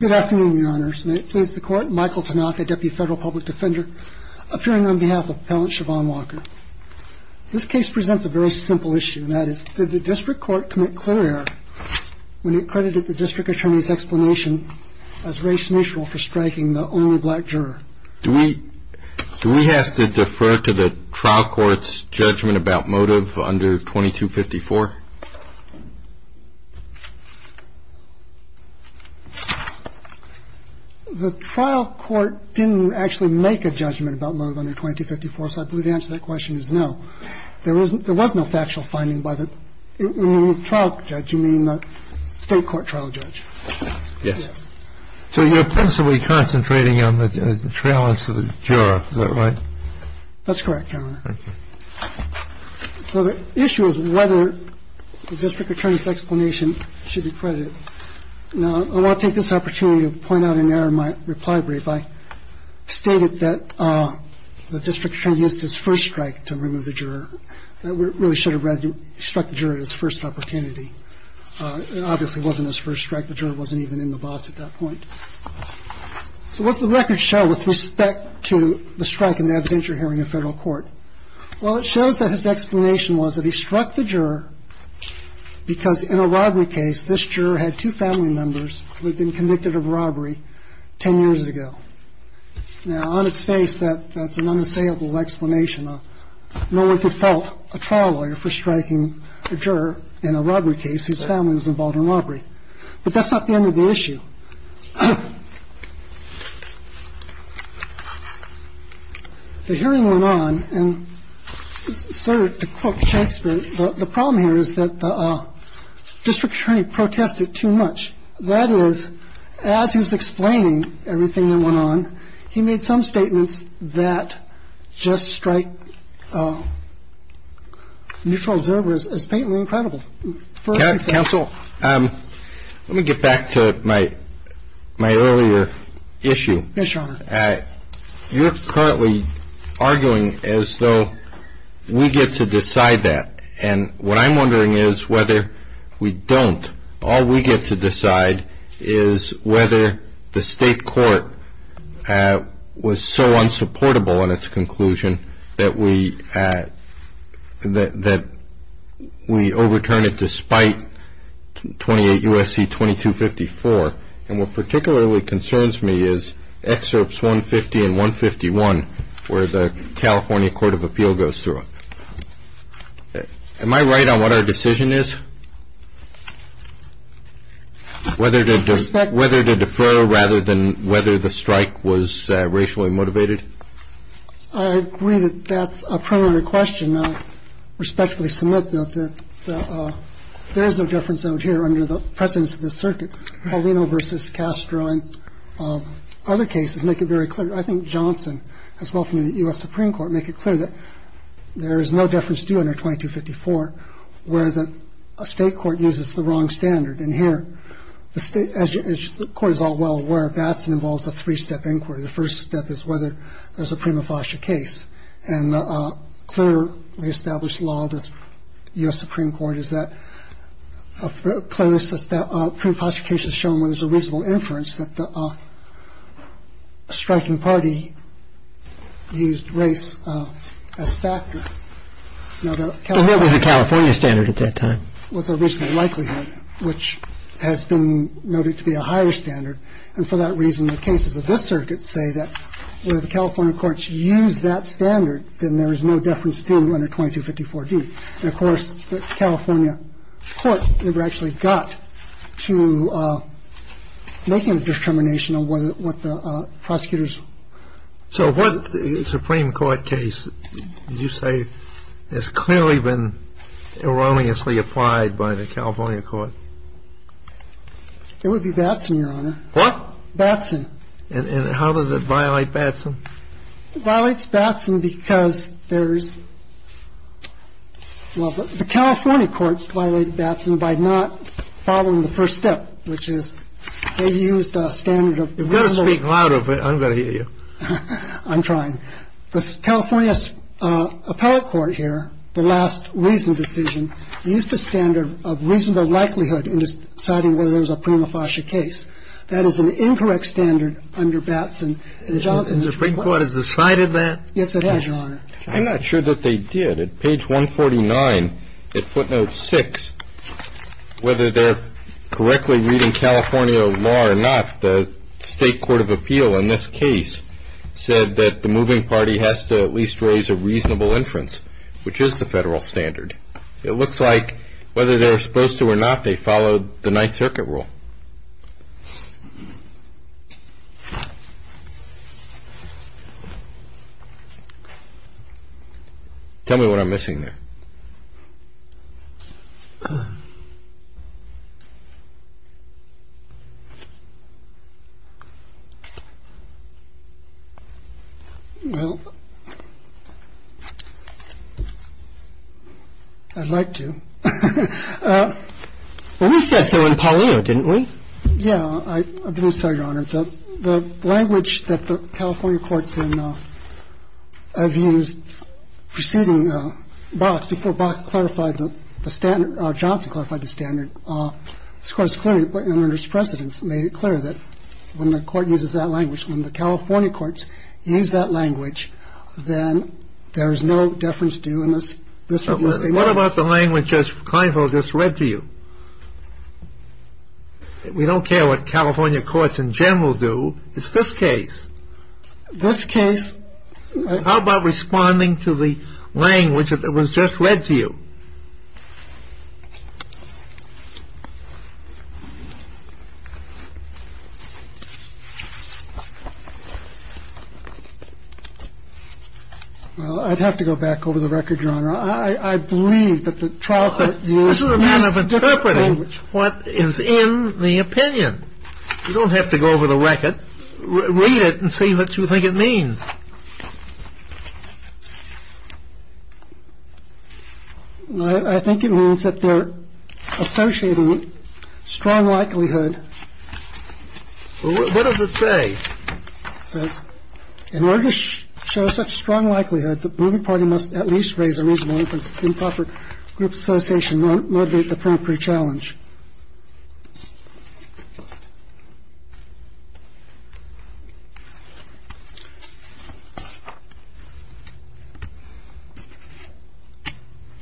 Good afternoon, Your Honors. May it please the Court, Michael Tanaka, Deputy Federal Public Defender, appearing on behalf of Appellant Siobhan Walker. This case presents a very simple issue, and that is, did the District Court commit clear error when it credited the District Attorney's explanation as race-neutral for striking the only black juror? Do we have to defer to the trial court's judgment about motive under 2254? TANAKA The trial court didn't actually make a judgment about motive under 2254, so I believe the answer to that question is no. There was no factual finding by the trial judge. You mean the State Court trial judge? Yes. So you're principally concentrating on the trial and to the juror. Is that right? That's correct, Your Honor. Thank you. So the issue is whether the District Attorney's explanation should be credited. Now, I want to take this opportunity to point out and narrow my reply brief. I stated that the District Attorney used his first strike to remove the juror. That really should have struck the juror at his first opportunity. It obviously wasn't his first strike. The juror wasn't even in the box at that point. So what's the record show with respect to the strike in the evidentiary hearing in federal court? Well, it shows that his explanation was that he struck the juror because in a robbery case, this juror had two family members who had been convicted of robbery 10 years ago. Now, on its face, that's an unassailable explanation. Now, no one could fault a trial lawyer for striking a juror in a robbery case whose family was involved in robbery. But that's not the end of the issue. The hearing went on and, sir, to quote Shakespeare, the problem here is that the District Attorney protested too much. That is, as he was explaining everything that went on, he made some statements that just strike neutral observers as faintly incredible. Counsel, let me get back to my earlier issue. Yes, Your Honor. You're currently arguing as though we get to decide that. And what I'm wondering is whether we don't. All we get to decide is whether the state court was so unsupportable in its conclusion that we overturn it despite 28 U.S.C. 2254. And what particularly concerns me is excerpts 150 and 151 where the California Court of Appeal goes through them. Am I right on what our decision is? Whether to defer rather than whether the strike was racially motivated? I agree that that's a primary question. I can respectfully submit that there is no difference out here under the precedence of the circuit. Paulino v. Castro and other cases make it very clear. I think Johnson, as well from the U.S. Supreme Court, make it clear that there is no difference due under 2254 where the state court uses the wrong standard. And here, as the Court is all well aware, Batson involves a three-step inquiry. The first step is whether there's a prima facie case. And the clearly established law of the U.S. Supreme Court is that a prima facie case is shown where there's a reasonable inference that the striking party used race as a factor. And that was the California standard at that time. It was a reasonable likelihood, which has been noted to be a higher standard. And for that reason, the cases of this circuit say that where the California courts use that standard, then there is no difference due under 2254D. And, of course, the California court never actually got to making a determination on what the prosecutors. So what Supreme Court case would you say has clearly been erroneously applied by the California court? It would be Batson, Your Honor. What? Batson. And how does it violate Batson? It violates Batson because there's – well, the California courts violated Batson by not following the first step, which is they used a standard of reasonable If you're going to speak louder, I'm going to hear you. I'm trying. The California appellate court here, the last reason decision, used a standard of reasonable likelihood in deciding whether there was a prima facie case. That is an incorrect standard under Batson. And the Johnson Supreme Court has decided that? Yes, it has, Your Honor. I'm not sure that they did. At page 149 at footnote 6, whether they're correctly reading California law or not, the state court of appeal in this case said that the moving party has to at least raise a reasonable inference, which is the federal standard. It looks like whether they're supposed to or not, they followed the Ninth Circuit rule. Tell me what I'm missing there. Well, I'd like to. Well, we said so in Paulino, didn't we? Yeah. I'm sorry, Your Honor. The language that the California courts have used preceding Box, before Box clarified the standard, or Johnson clarified the standard, this Court has clearly, under its precedence, made it clear that when the court uses that language, when the California courts use that language, then there is no deference due in this review. What about the language Judge Kleinfeld just read to you? We don't care what California courts in general do. It's this case. This case. How about responding to the language that was just read to you? Well, I'd have to go back over the record, Your Honor. I believe that the trial court used this language. But this is a manner of interpreting what is in the opinion. You don't have to go over the record. Read it and see what you think it means. I think it means that they're associating strong likelihood. What does it say? It says, in order to show such strong likelihood, the moving party must at least raise a reasonable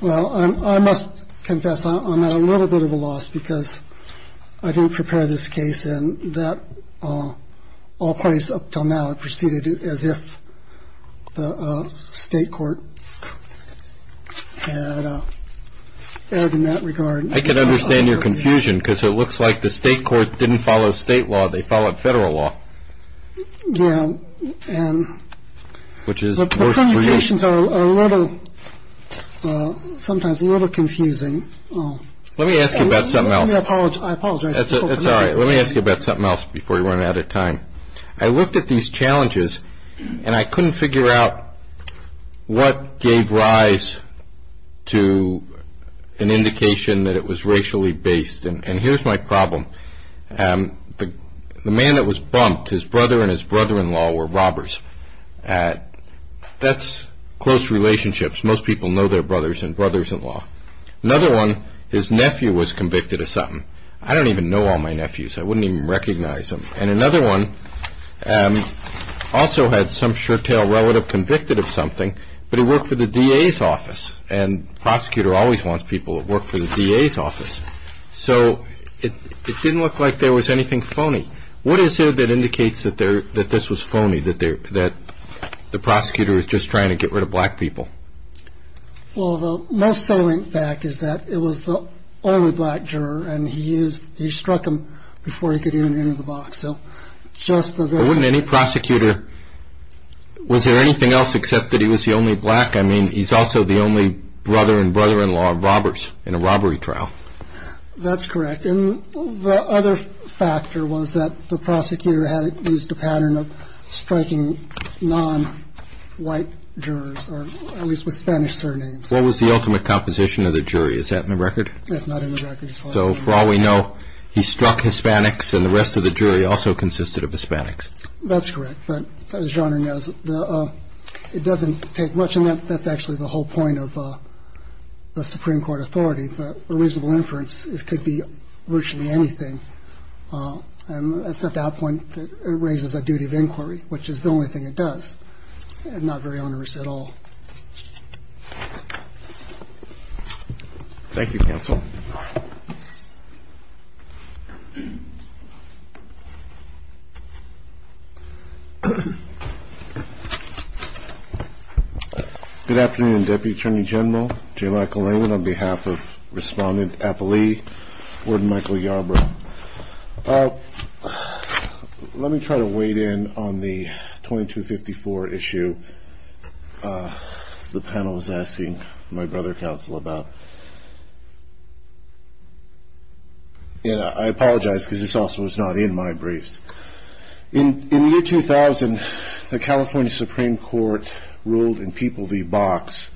Well, I must confess, I'm at a little bit of a loss, because I didn't prepare this case, and that all parties up until now have preceded it as if the State court. And in that regard, I can understand your confusion because it looks like the state court didn't follow state law. They followed federal law. Yeah. And which is a little sometimes a little confusing. Let me ask you about something else. I apologize. That's all right. Let me ask you about something else before we run out of time. I looked at these challenges, and I couldn't figure out what gave rise to an indication that it was racially based. And here's my problem. The man that was bumped, his brother and his brother-in-law were robbers. That's close relationships. Most people know their brothers and brothers-in-law. Another one, his nephew was convicted of something. I don't even know all my nephews. I wouldn't even recognize them. And another one also had some sure-tail relative convicted of something, but he worked for the DA's office. And the prosecutor always wants people who work for the DA's office. So it didn't look like there was anything phony. What is it that indicates that this was phony, that the prosecutor was just trying to get rid of black people? Well, the most salient fact is that it was the only black juror, and he struck him before he could even enter the box. But wasn't any prosecutor, was there anything else except that he was the only black? I mean, he's also the only brother and brother-in-law of robbers in a robbery trial. That's correct. And the other factor was that the prosecutor had used a pattern of striking non-white jurors, or at least with Spanish surnames. What was the ultimate composition of the jury? Is that in the record? That's not in the record. So for all we know, he struck Hispanics, and the rest of the jury also consisted of Hispanics. That's correct. But as Your Honor knows, it doesn't take much. And that's actually the whole point of the Supreme Court authority, that a reasonable inference could be virtually anything. And it's at that point that it raises a duty of inquiry, which is the only thing it does, and not very onerous at all. Thank you, counsel. Good afternoon, Deputy Attorney General J. Michael Layton. On behalf of Respondent Apolli, Warden Michael Yarbrough. Well, let me try to wade in on the 2254 issue the panel was asking my brother counsel about. I apologize because this also was not in my briefs. In the year 2000, the California Supreme Court ruled in People v. Box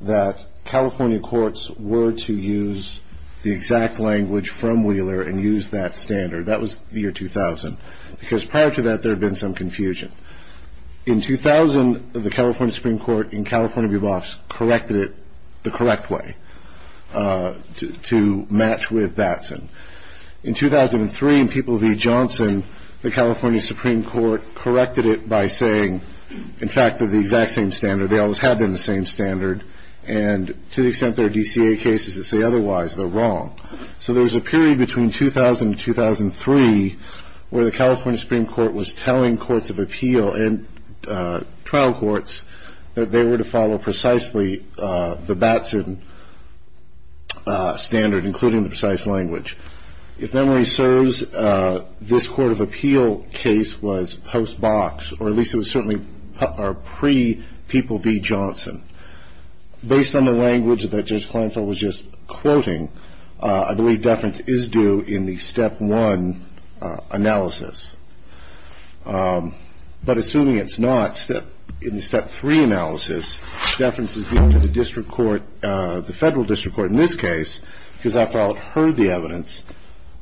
that California courts were to use the exact language from Wheeler and use that standard. That was the year 2000, because prior to that, there had been some confusion. In 2000, the California Supreme Court in California v. Box corrected it the correct way, to match with Batson. In 2003, in People v. Johnson, the California Supreme Court corrected it by saying, in fact, that the exact same standard, they always have been the same standard, and to the extent there are DCA cases that say otherwise, they're wrong. So there was a period between 2000 and 2003 where the California Supreme Court was telling courts of appeal and trial courts that they were to follow precisely the Batson standard, including the precise language. If memory serves, this court of appeal case was post-Box, or at least it was certainly pre-People v. Johnson. Based on the language that Judge Kleinfeld was just quoting, I believe deference is due in the step one analysis. But assuming it's not, in the step three analysis, deference is due to the district court, the federal district court in this case, because after all it heard the evidence,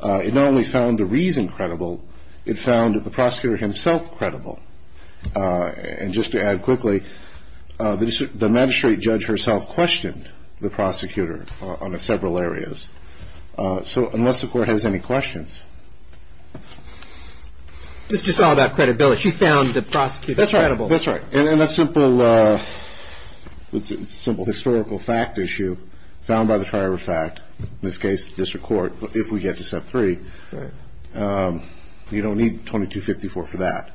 it not only found the reason credible, it found the prosecutor himself credible. And just to add quickly, the magistrate judge herself questioned the prosecutor on several areas. So unless the Court has any questions. It's just all about credibility. She found the prosecutor credible. That's right. And a simple historical fact issue found by the trier of fact, in this case the district court, if we get to step three, you don't need 2254 for that.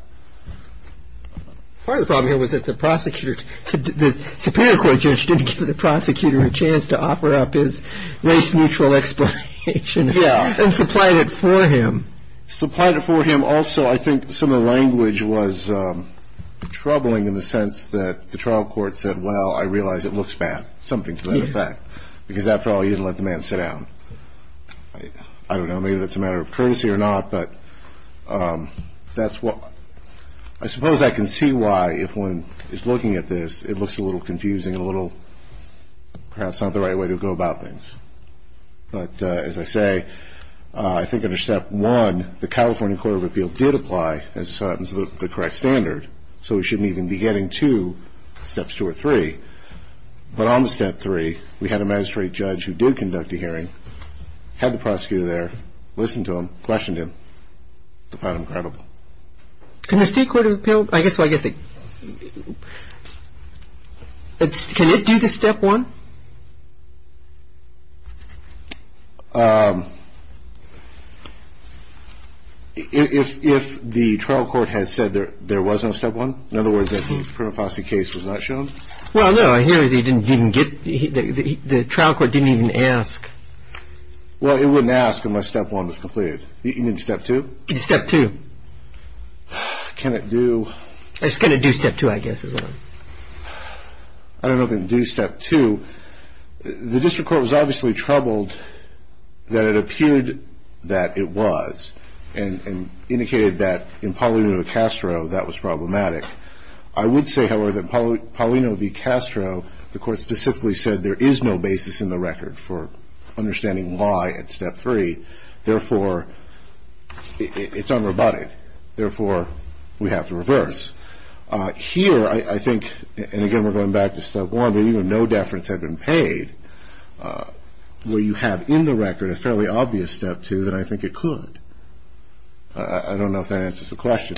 Part of the problem here was that the prosecutor, the Superior Court judge didn't give the prosecutor a chance to offer up his race-neutral explanation. Yeah. And supplied it for him. Supplied it for him. Also, I think some of the language was troubling in the sense that the trial court said, well, I realize it looks bad, something to that effect, because after all you didn't let the man sit down. I don't know. Maybe that's a matter of courtesy or not, but that's what. I suppose I can see why, if one is looking at this, it looks a little confusing, a little perhaps not the right way to go about things. But as I say, I think under step one, the California Court of Appeals did apply, as it happens, to the correct standard. So we shouldn't even be getting to steps two or three. But on the step three, we had a magistrate judge who did conduct a hearing, had the prosecutor there, listened to him, questioned him, found him credible. Can the State Court of Appeals, I guess what I'm guessing, can it do the step one? If the trial court has said there was no step one, in other words, that the prima facie case was not shown? Well, no. I hear they didn't even get, the trial court didn't even ask. Well, it wouldn't ask unless step one was completed. You mean step two? Step two. Can it do? It's going to do step two, I guess. I don't know if it can do step two. The district court was obviously troubled that it appeared that it was and indicated that in Paulino-Castro that was problematic. I would say, however, that Paulino v. Castro, the Court specifically said there is no basis in the record for understanding why at step three. Therefore, it's unrobotic. Therefore, we have to reverse. Here, I think, and again, we're going back to step one, but even no deference had been paid. Will you have in the record a fairly obvious step two that I think it could? I don't know if that answers the question.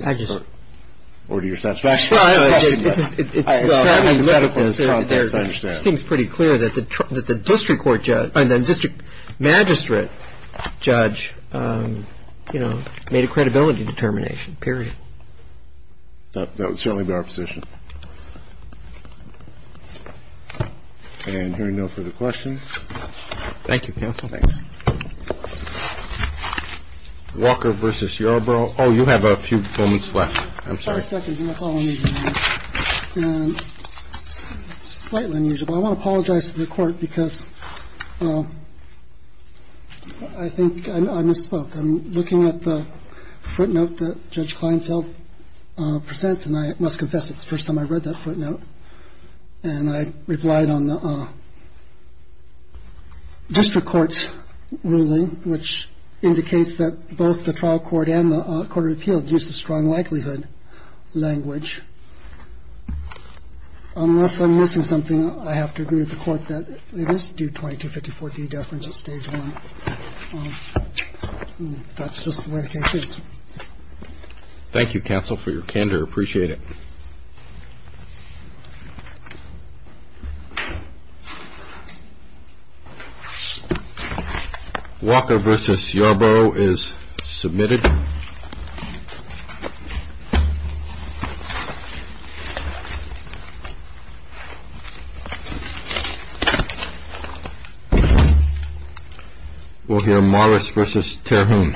Or do you satisfy the question? It's fairly clear that the district magistrate judge made a credibility determination, period. That would certainly be our position. And there are no further questions. Thank you, counsel. Thanks. Walker v. Yarborough. Oh, you have a few moments left. I'm sorry. I want to apologize to the Court because I think I misspoke. I'm looking at the footnote that Judge Kleinfeld presents, and I must confess it's the first time I read that footnote. And I replied on the district court's ruling, which indicates that both the trial court and the court of appeals use the strong likelihood language. Unless I'm missing something, I have to agree with the Court that it is due 2254D deference at stage one. That's just the way the case is. Thank you, counsel, for your candor. Appreciate it. Thank you. Walker v. Yarborough is submitted. We'll hear Morris v. Terhune.